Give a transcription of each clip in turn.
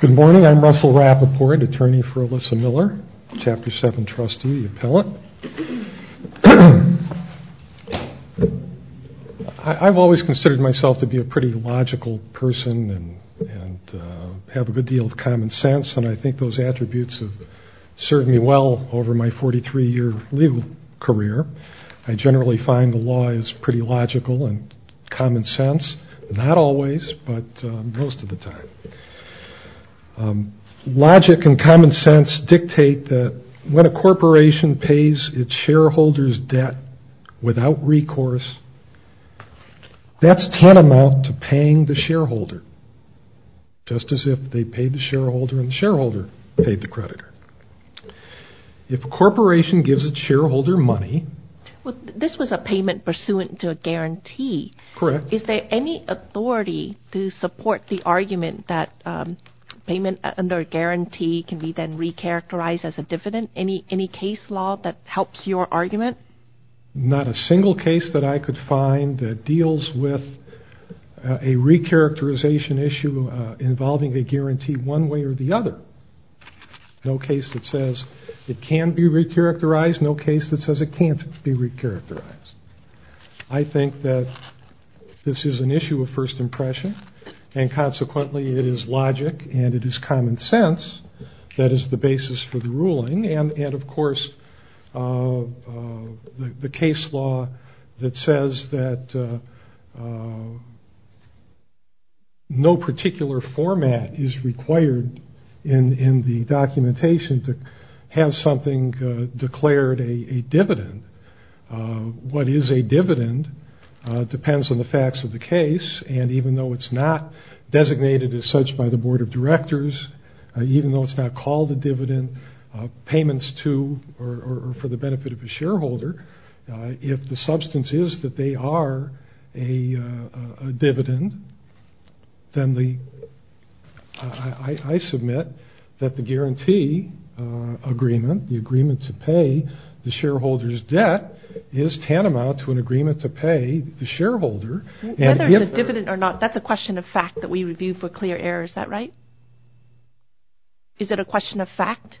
Good morning, I'm Russell Rappaport, attorney for Elissa Miller, Chapter 7 trustee, appellant. I've always considered myself to be a pretty logical person and have a good deal of common sense and I think those attributes have served me well over my 43 year legal career. I generally find the law is pretty logical and common sense, not always but most of the time. Logic and common sense dictate that when a corporation pays its shareholders debt without recourse, that's tantamount to paying the shareholder, just as if they paid the shareholder and the shareholder paid the creditor. If a corporation gives its Is there any authority to support the argument that payment under guarantee can be then re-characterized as a dividend? Any case law that helps your argument? Not a single case that I could find that deals with a re-characterization issue involving a guarantee one way or the other. No case that says it can be re-characterized, no case that says it can't be re-characterized. I think that this is an issue of first impression and consequently it is logic and it is common sense that is the basis for the ruling and of course the case law that says that no particular format is required in the documentation to have something declared a dividend. What is a dividend depends on the facts of the case and even though it's not designated as such by the Board of Directors, even though it's not called a dividend, payments to or for the benefit of the shareholder, if the substance is that they are a dividend, I submit that the guarantee agreement, the agreement to pay the shareholder's debt is tantamount to an agreement to pay the shareholder. Whether it's a dividend or not, that's a question of fact that we review for clear error, is that right? Is it a question of fact?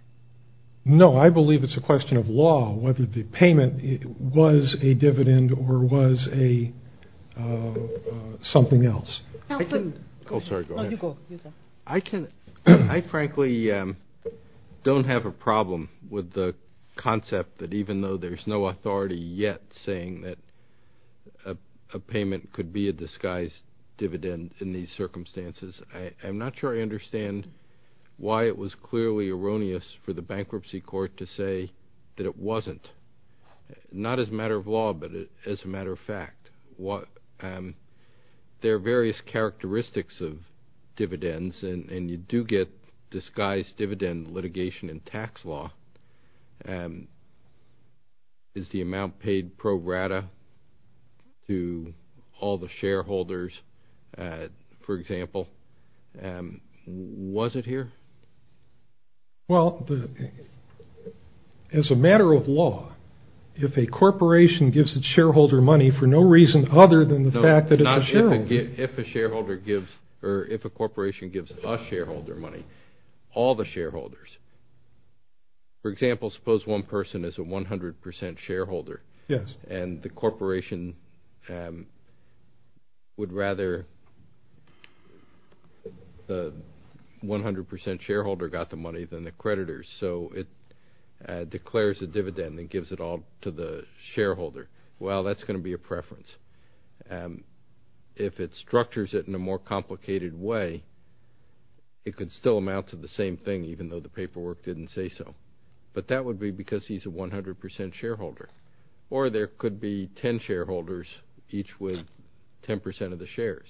No, I believe it's a question of law whether the payment was a dividend or was something else. I frankly don't have a problem with the concept that even though there's no authority yet saying that a payment could be a disguised dividend in these for the bankruptcy court to say that it wasn't, not as a matter of law but as a matter of fact. There are various characteristics of dividends and you do get disguised dividend litigation in tax law. Is the amount paid pro rata to all the shareholders, for example, was it here? Well, as a matter of law, if a corporation gives its shareholder money for no reason other than the fact that it's a shareholder. If a shareholder gives or if a corporation gives a shareholder money, all the shareholders, for example, suppose one person is a 100% shareholder and the 100% shareholder got the money than the creditors. So it declares a dividend and gives it all to the shareholder. Well, that's going to be a preference. If it structures it in a more complicated way, it could still amount to the same thing even though the paperwork didn't say so. But that would be because he's a 100% shareholder. Or there could be 10 shareholders each with 10% of the shares.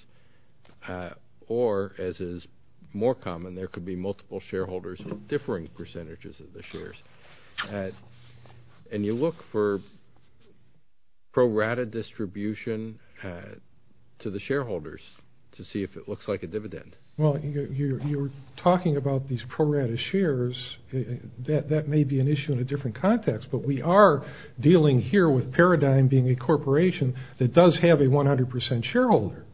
Or, as is more common, there could be multiple shareholders with differing percentages of the shares. And you look for pro rata distribution to the shareholders to see if it looks like a dividend. Well, you're talking about these pro rata shares. That may be an issue in a different context, but we are dealing here with Paradigm being a corporation that does have a 100% shareholder.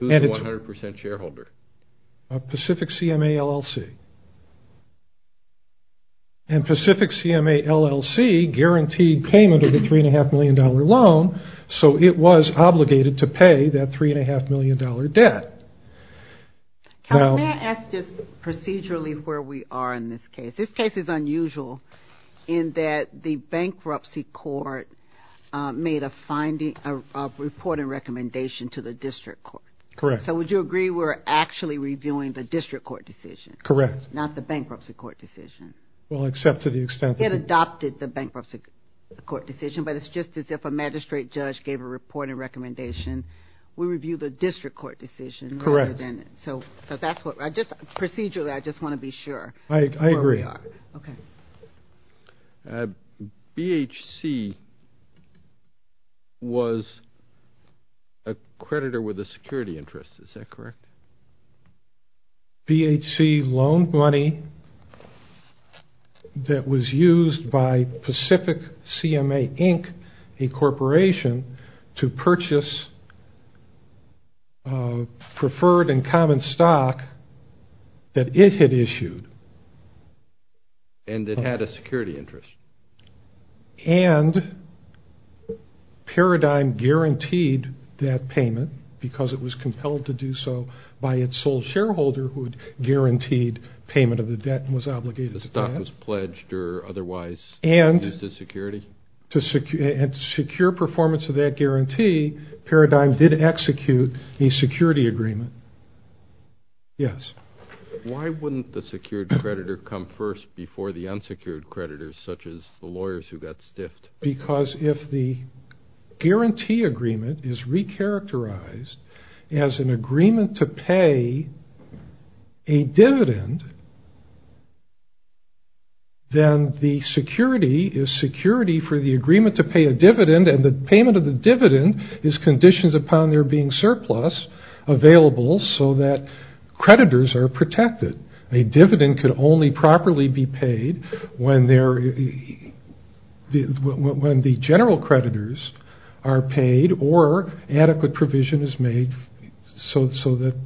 Who's a 100% shareholder? Pacific CMA, LLC. And Pacific CMA, LLC guaranteed payment of a $3.5 million loan, so it was obligated to pay that $3.5 million debt. Can I ask just procedurally where we are in this case? This case is unusual in that the bankruptcy court made a report and recommendation to the district court. Correct. So would you agree we're actually reviewing the district court decision? Correct. Not the bankruptcy court decision? Well, except to the extent that... It adopted the bankruptcy court decision, but it's just as if a magistrate judge gave a report and recommendation. We review the district court decision rather than... Correct. So, procedurally, I just want to be sure where we are. I agree. Okay. BHC was a creditor with a security interest. Is that correct? BHC loaned money that was used by Pacific CMA, Inc., a corporation, to purchase preferred and common stock that it had issued. And it had a security interest? And Paradigm guaranteed that payment because it was compelled to do so by its sole shareholder who had guaranteed payment of the debt and was obligated to that. The stock was pledged or otherwise used as security? And to secure performance of that guarantee, Paradigm did execute a security agreement. Yes. Why wouldn't the secured creditor come first before the unsecured creditors, such as the lawyers who got stiffed? Because if the guarantee agreement is re-characterized as an agreement to pay a dividend, then the security is security for the agreement to pay a dividend, and the payment of the dividend is conditioned upon there being surplus available so that creditors are protected. A dividend can only properly be paid when the general creditors are paid or adequate provision is made so that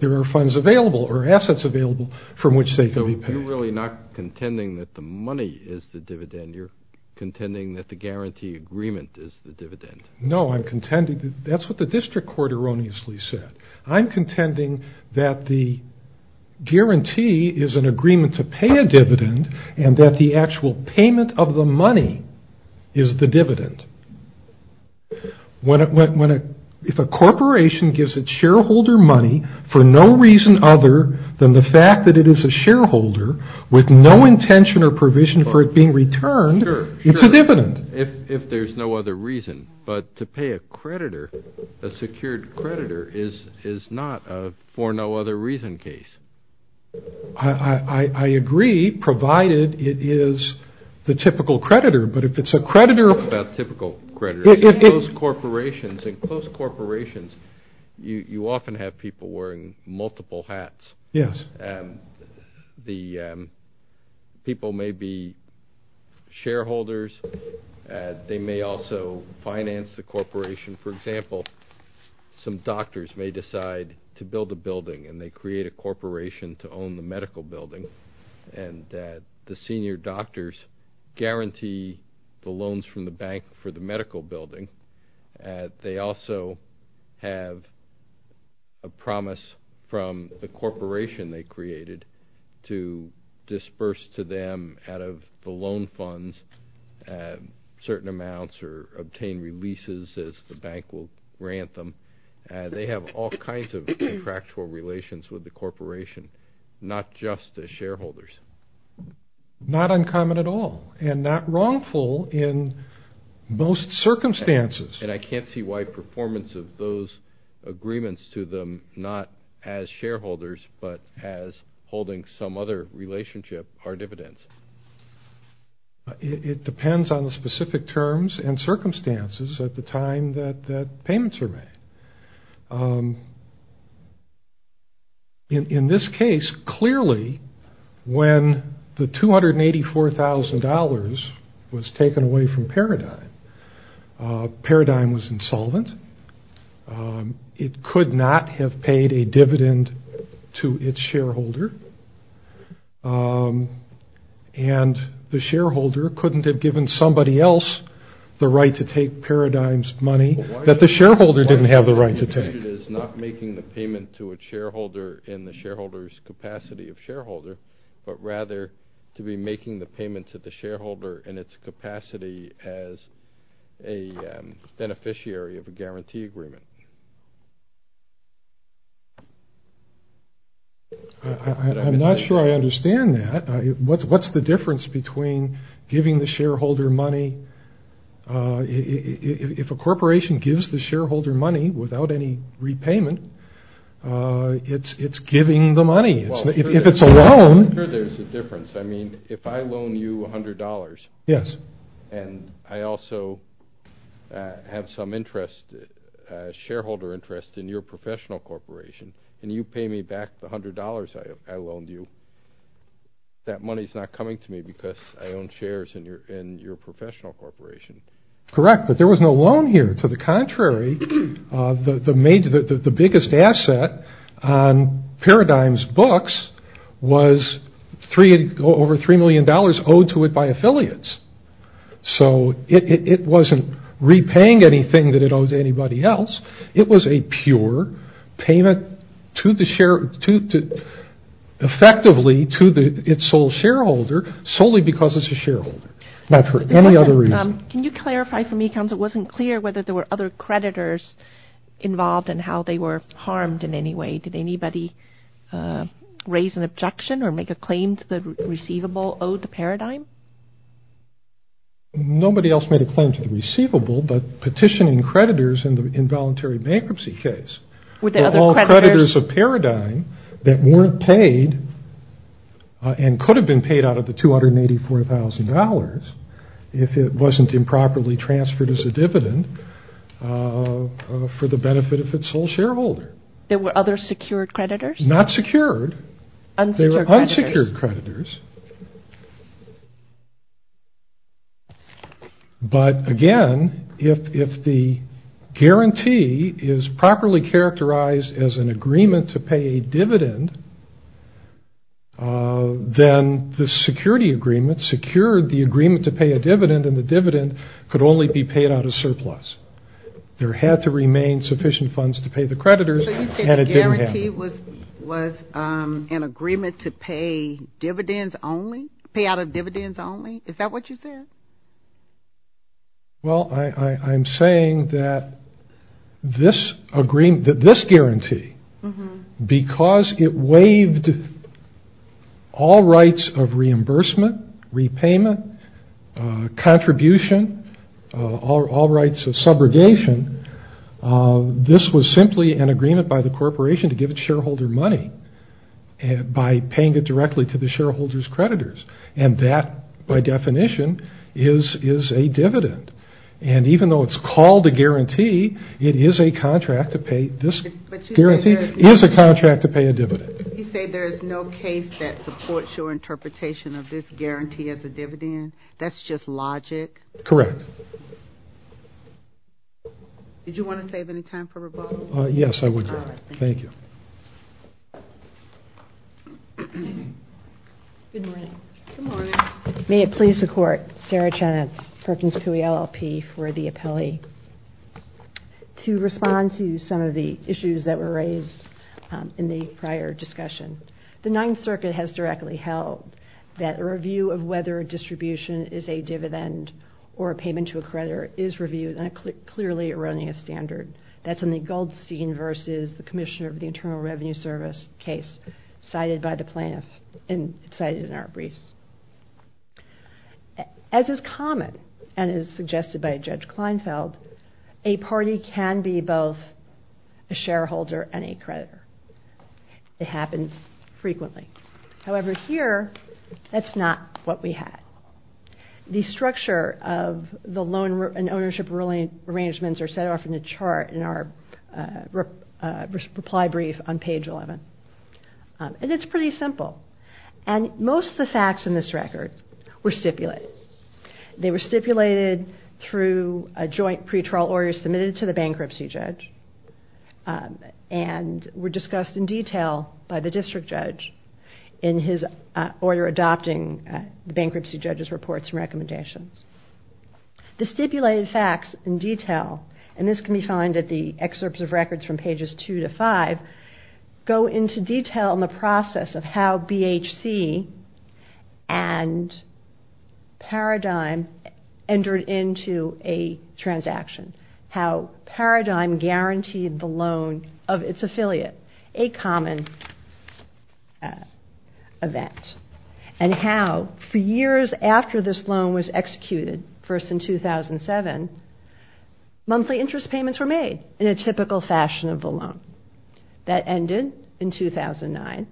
there are funds available or assets available from which they can be paid. So you're really not contending that the money is the dividend. You're contending that the guarantee agreement is the dividend. No, I'm contending. That's what the district court erroneously said. I'm contending that the guarantee is an agreement to pay a dividend and that the actual payment of the money is the dividend. If a corporation gives its shareholder money for no reason other than the fact that it is a shareholder with no intention or provision for it being returned, it's a dividend. If there's no other reason. But to pay a creditor, a secured creditor, is not a for no other reason case. I agree, provided it is the typical creditor. But if it's a creditor... It's not about typical creditors. In close corporations, you often have people wearing multiple hats. Yes. The people may be shareholders. They may also finance the corporation. For example, some doctors may decide to build a building, and they create a corporation to own the medical building. And the senior doctors guarantee the loans from the bank for the medical building. They also have a promise from the corporation they created to disperse to them, out of the loan funds, certain amounts or obtain releases as the bank will grant them. They have all kinds of contractual relations with the corporation, not just the shareholders. Not uncommon at all, and not wrongful in most circumstances. And I can't see why performance of those agreements to them, not as shareholders, but as holding some other relationship, are dividends. It depends on the specific terms and circumstances at the time that payments are made. In this case, clearly, when the $284,000 was taken away from Paradigm, Paradigm was insolvent. It could not have paid a dividend to its shareholder. And the shareholder couldn't have given somebody else the right to take Paradigm's money that the shareholder didn't have the right to take. Why Paradigm is not making the payment to a shareholder in the shareholder's capacity of shareholder, but rather to be making the payment to the shareholder in its capacity as a beneficiary of a guarantee agreement? I'm not sure I understand that. What's the difference between giving the shareholder money? If a corporation gives the shareholder money without any repayment, it's giving the money. If it's a loan. I'm sure there's a difference. I mean, if I loan you $100, and I also have some shareholder interest in your professional corporation, and you pay me back the $100 I loaned you, that money's not coming to me because I own shares in your professional corporation. Correct, but there was no loan here. To the contrary, the biggest asset on Paradigm's books was over $3 million owed to it by affiliates. So it wasn't repaying anything that it owes anybody else. It was a pure payment effectively to its sole shareholder solely because it's a shareholder, not for any other reason. Can you clarify for me, counsel, it wasn't clear whether there were other creditors involved and how they were harmed in any way. Did anybody raise an objection or make a claim to the receivable owed to Paradigm? Nobody else made a claim to the receivable, but petitioning creditors in the involuntary bankruptcy case were all creditors of Paradigm that weren't paid and could have been paid out of the $284,000 if it wasn't improperly transferred as a dividend for the benefit of its sole shareholder. There were other secured creditors? Not secured. Unsecured creditors. Unsecured creditors. But again, if the guarantee is properly characterized as an agreement to pay a dividend, then the security agreement secured the agreement to pay a dividend and the dividend could only be paid out of surplus. There had to remain sufficient funds to pay the creditors and it didn't happen. So the guarantee was an agreement to pay dividends only, pay out of dividends only? Is that what you said? Well, I'm saying that this guarantee, because it waived all rights of reimbursement, repayment, contribution, all rights of subrogation, this was simply an agreement by the corporation to give its shareholder money by paying it directly to the shareholder's creditors. And that, by definition, is a dividend. And even though it's called a guarantee, it is a contract to pay a dividend. You say there is no case that supports your interpretation of this guarantee as a dividend? That's just logic? Correct. Did you want to save any time for rebuttal? Yes, I would. Thank you. Good morning. Good morning. May it please the Court, Sarah Chenitz, Perkins Coie LLP for the appellee, to respond to some of the issues that were raised in the prior discussion. The Ninth Circuit has directly held that a review of whether a distribution is a dividend or a payment to a creditor is reviewed, and clearly erroneous standard. That's in the Goldstein v. Commissioner of the Internal Revenue Service case cited in our briefs. As is common and is suggested by Judge Kleinfeld, a party can be both a shareholder and a creditor. It happens frequently. However, here, that's not what we had. The structure of the loan and ownership arrangements are set off in the chart in our reply brief on page 11. And it's pretty simple. And most of the facts in this record were stipulated. They were stipulated through a joint pretrial order submitted to the bankruptcy judge and were discussed in detail by the district judge in his order adopting the bankruptcy judge's reports and recommendations. The stipulated facts in detail, and this can be found at the excerpts of records from pages 2 to 5, go into detail in the process of how BHC and Paradigm entered into a transaction, how Paradigm guaranteed the loan of its affiliate, a common event, and how for years after this loan was executed, first in 2007, monthly interest payments were made in a typical fashion of the loan. That ended in 2009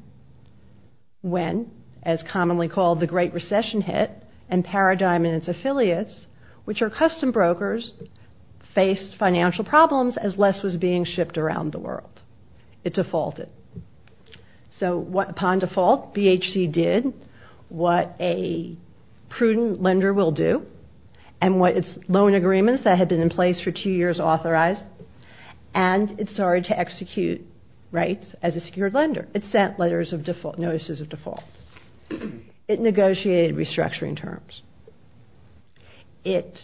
when, as commonly called, the Great Recession hit, and Paradigm and its affiliates, which are custom brokers, faced financial problems as less was being shipped around the world. It defaulted. So upon default, BHC did what a prudent lender will do and what its loan agreements that had been in place for two years authorized, and it started to execute rights as a secured lender. It sent notices of default. It negotiated restructuring terms. It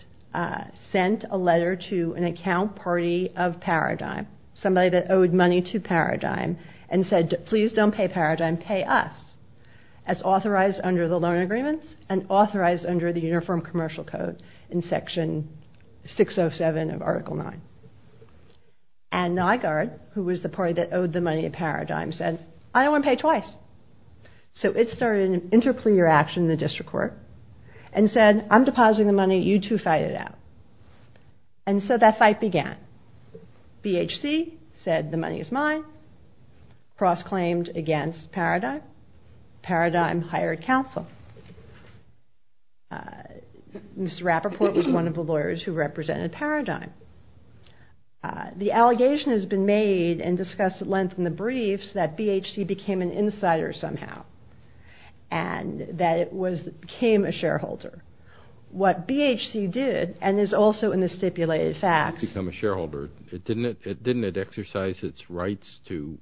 sent a letter to an account party of Paradigm, somebody that owed money to Paradigm, and said, please don't pay Paradigm, pay us, as authorized under the loan agreements and authorized under the Uniform Commercial Code in Section 607 of Article 9. And Nygaard, who was the party that owed the money to Paradigm, said, I don't want to pay twice. So it started an interplea action in the district court and said, I'm depositing the money, you two fight it out. And so that fight began. BHC said the money is mine, cross-claimed against Paradigm. Paradigm hired counsel. Mr. Rappaport was one of the lawyers who represented Paradigm. The allegation has been made and discussed at length in the briefs that BHC became an insider somehow and that it became a shareholder. What BHC did, and is also in the stipulated facts. It didn't become a shareholder. Didn't it exercise its rights to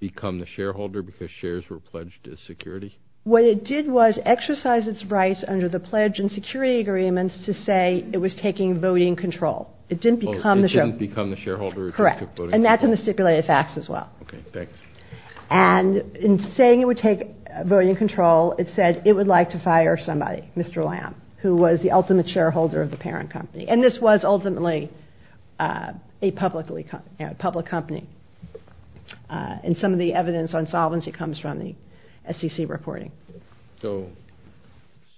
become the shareholder because shares were pledged as security? What it did was exercise its rights under the pledge and security agreements to say it was taking voting control. It didn't become the shareholder. And that's in the stipulated facts as well. And in saying it would take voting control, it said it would like to fire somebody, Mr. Lamb, who was the ultimate shareholder of the parent company. And this was ultimately a public company. And some of the evidence on solvency comes from the SEC reporting.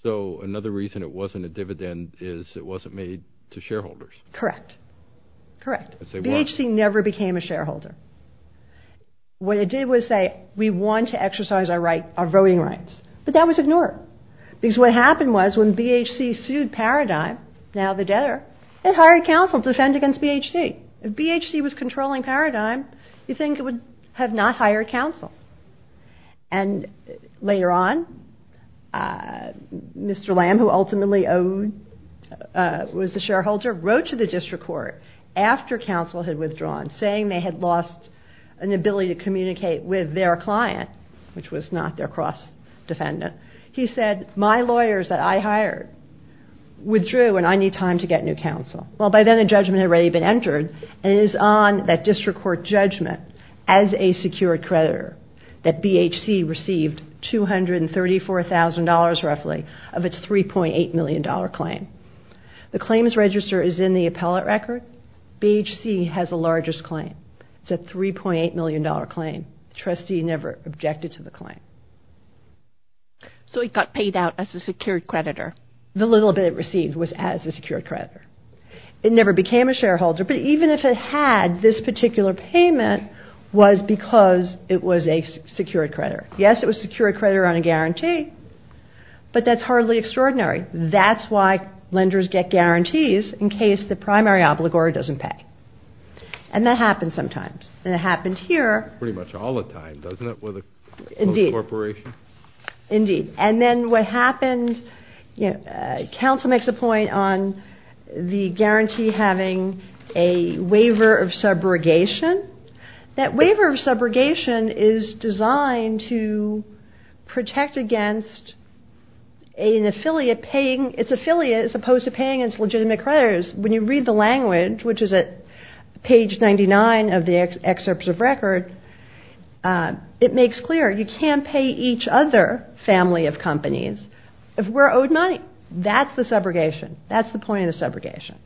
So another reason it wasn't a dividend is it wasn't made to shareholders. Correct. BHC never became a shareholder. What it did was say we want to exercise our voting rights. But that was ignored because what happened was when BHC sued Paradigm, now the debtor, it hired counsel to defend against BHC. If BHC was controlling Paradigm, you'd think it would have not hired counsel. And later on, Mr. Lamb, who ultimately was the shareholder, wrote to the district court after counsel had withdrawn, saying they had lost an ability to communicate with their client, which was not their cross-defendant. He said, my lawyers that I hired withdrew and I need time to get new counsel. Well, by then a judgment had already been entered, and it is on that district court judgment as a secured creditor that BHC received $234,000 roughly of its $3.8 million claim. The claims register is in the appellate record. BHC has the largest claim. It's a $3.8 million claim. The trustee never objected to the claim. So it got paid out as a secured creditor. The little bit it received was as a secured creditor. It never became a shareholder, but even if it had, this particular payment was because it was a secured creditor. Yes, it was secured creditor on a guarantee, but that's hardly extraordinary. That's why lenders get guarantees in case the primary obligor doesn't pay. And that happens sometimes. And it happened here. Pretty much all the time, doesn't it, with a corporation? Indeed. Indeed. And then what happened, you know, counsel makes a point on the guarantee having a waiver of subrogation. That waiver of subrogation is designed to protect against an affiliate paying its affiliate as opposed to paying its legitimate creditors. When you read the language, which is at page 99 of the excerpts of record, it makes clear you can't pay each other or a family of companies if we're owed money. That's the subrogation. That's the point of the subrogation.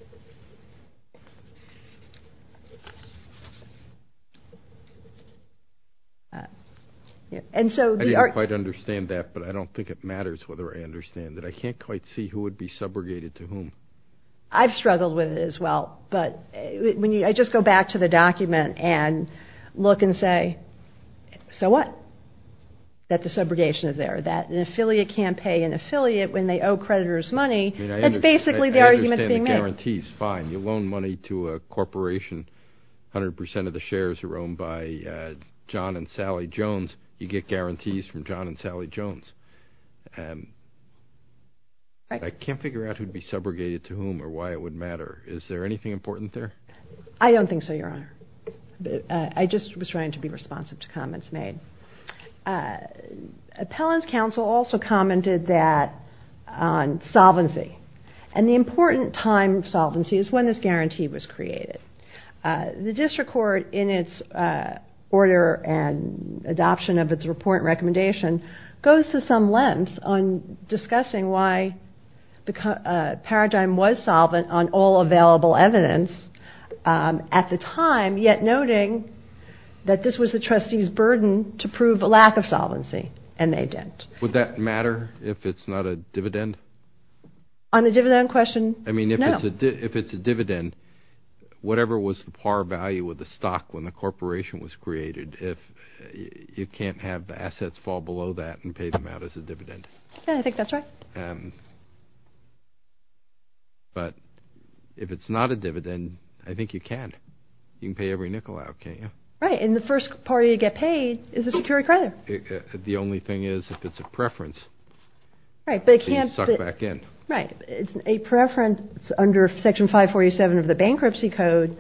I didn't quite understand that, but I don't think it matters whether I understand it. I can't quite see who would be subrogated to whom. I've struggled with it as well, but I just go back to the document and look and say, so what? That the subrogation is there, that an affiliate can't pay an affiliate when they owe creditors money. That's basically the argument being made. I understand the guarantees. Fine. You loan money to a corporation. A hundred percent of the shares are owned by John and Sally Jones. You get guarantees from John and Sally Jones. I can't figure out who would be subrogated to whom or why it would matter. Is there anything important there? I don't think so, Your Honor. I just was trying to be responsive to comments made. Appellant's counsel also commented on solvency. And the important time of solvency is when this guarantee was created. The district court, in its order and adoption of its report and recommendation, goes to some length on discussing why the paradigm was solvent on all available evidence. At the time, yet noting that this was the trustee's burden to prove a lack of solvency, and they didn't. Would that matter if it's not a dividend? On the dividend question, no. I mean, if it's a dividend, whatever was the par value of the stock when the corporation was created, you can't have assets fall below that and pay them out as a dividend. Yeah, I think that's right. But if it's not a dividend, I think you can. You can pay every nickel out, can't you? Right. And the first party to get paid is a secured creditor. The only thing is if it's a preference. Right. So you suck back in. Right. It's a preference under Section 547 of the Bankruptcy Code.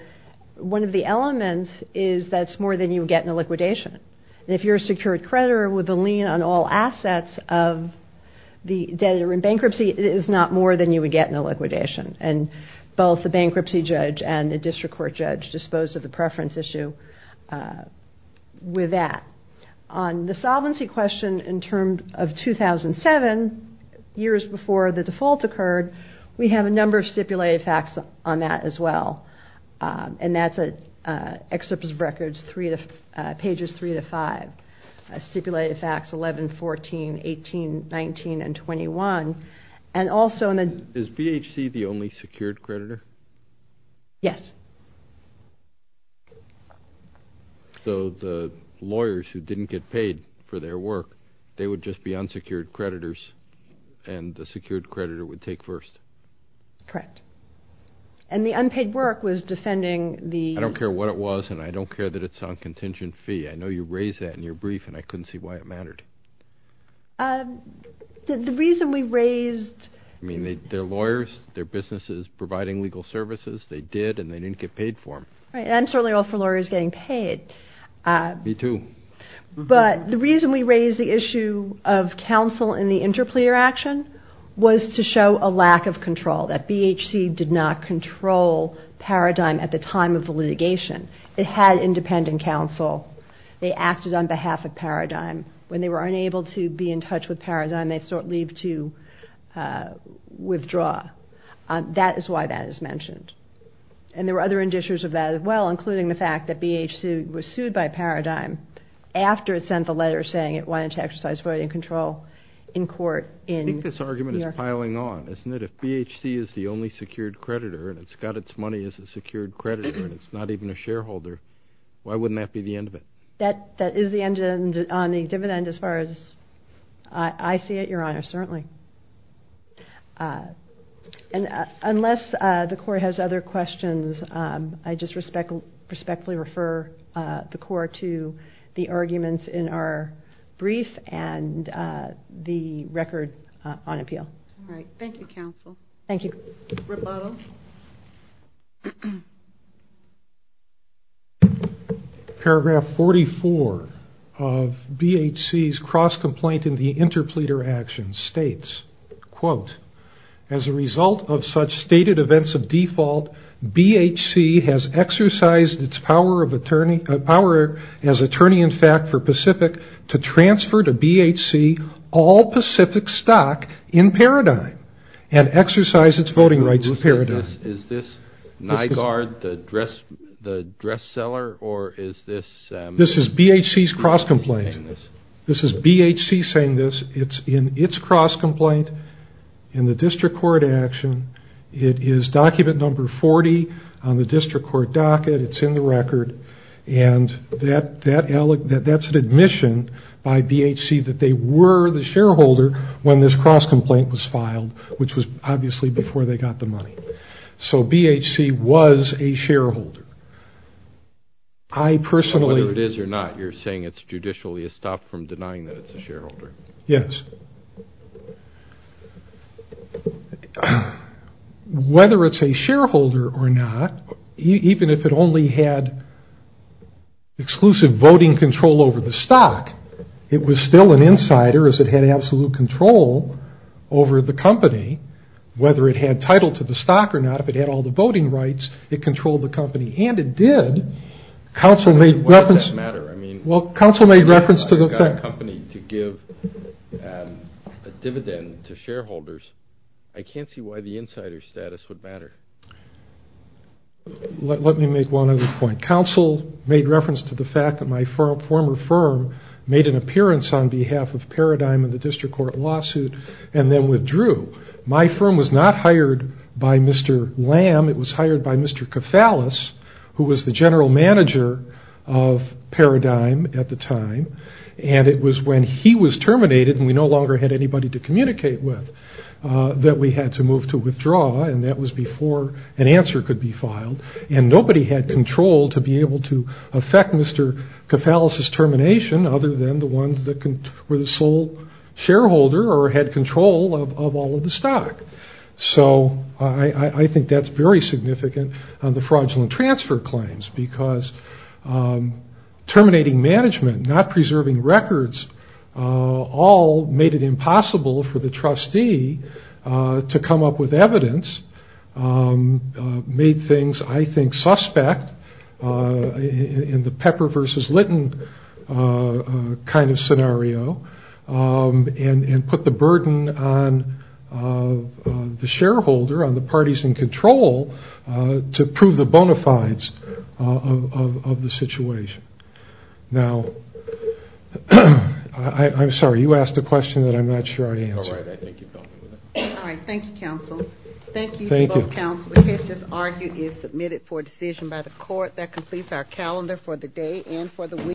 One of the elements is that it's more than you would get in a liquidation. And if you're a secured creditor with a lien on all assets of the debtor in bankruptcy, it is not more than you would get in a liquidation. And both the bankruptcy judge and the district court judge dispose of the preference issue with that. On the solvency question in terms of 2007, years before the default occurred, we have a number of stipulated facts on that as well. And that's excerpts of records, pages 3 to 5, stipulated facts 11, 14, 18, 19, and 21. Is BHC the only secured creditor? Yes. So the lawyers who didn't get paid for their work, they would just be unsecured creditors and the secured creditor would take first? Correct. And the unpaid work was defending the- I don't care what it was, and I don't care that it's on contingent fee. I know you raised that in your brief, and I couldn't see why it mattered. The reason we raised- I mean, they're lawyers. Their business is providing legal services. They did, and they didn't get paid for them. Right. And I'm certainly all for lawyers getting paid. Me too. But the reason we raised the issue of counsel in the interplayer action was to show a lack of control. That BHC did not control Paradigm at the time of the litigation. It had independent counsel. They acted on behalf of Paradigm. When they were unable to be in touch with Paradigm, they sort of leave to withdraw. That is why that is mentioned. And there were other indicators of that as well, including the fact that BHC was sued by Paradigm after it sent the letter saying it wanted to exercise voting control in court in New York. I think this argument is piling on, isn't it? If BHC is the only secured creditor and it's got its money as a secured creditor and it's not even a shareholder, why wouldn't that be the end of it? That is the end on the dividend as far as I see it, Your Honor, certainly. Unless the Court has other questions, I just respectfully refer the Court to the arguments in our brief and the record on appeal. All right. Thank you, counsel. Thank you. Roboto. Paragraph 44 of BHC's cross-complaint in the interpleader action states, quote, as a result of such stated events of default, BHC has exercised its power as attorney in fact for Pacific to transfer to BHC all Pacific stock in Paradigm and exercise its voting rights in Paradigm. Is this Nygaard, the dress seller, or is this? This is BHC's cross-complaint. This is BHC saying this. It's in its cross-complaint in the district court action. It is document number 40 on the district court docket. It's in the record. And that's an admission by BHC that they were the shareholder when this cross-complaint was filed, which was obviously before they got the money. So BHC was a shareholder. Whether it is or not, you're saying it's judicially estopped from denying that it's a shareholder. Yes. Whether it's a shareholder or not, even if it only had exclusive voting control over the stock, it was still an insider as it had absolute control over the company. Whether it had title to the stock or not, if it had all the voting rights, it controlled the company. And it did. Council made reference. Why does that matter? I got a company to give a dividend to shareholders. I can't see why the insider status would matter. Let me make one other point. Council made reference to the fact that my former firm made an appearance on behalf of Paradigm in the district court lawsuit and then withdrew. My firm was not hired by Mr. Lamb. It was hired by Mr. Kafalis, who was the general manager of Paradigm at the time. And it was when he was terminated and we no longer had anybody to communicate with, that we had to move to withdraw. And that was before an answer could be filed. And nobody had control to be able to affect Mr. Kafalis's termination, other than the ones that were the sole shareholder or had control of all of the stock. So I think that's very significant on the fraudulent transfer claims, because terminating management, not preserving records, all made it impossible for the trustee to come up with evidence, made things, I think, suspect in the Pepper versus Litton kind of scenario, and put the burden on the shareholder, on the parties in control, to prove the bona fides of the situation. Now, I'm sorry, you asked a question that I'm not sure I answered. All right, thank you, counsel. Thank you to both counsel. The case just argued is submitted for decision by the court. That completes our calendar for the day and for the week.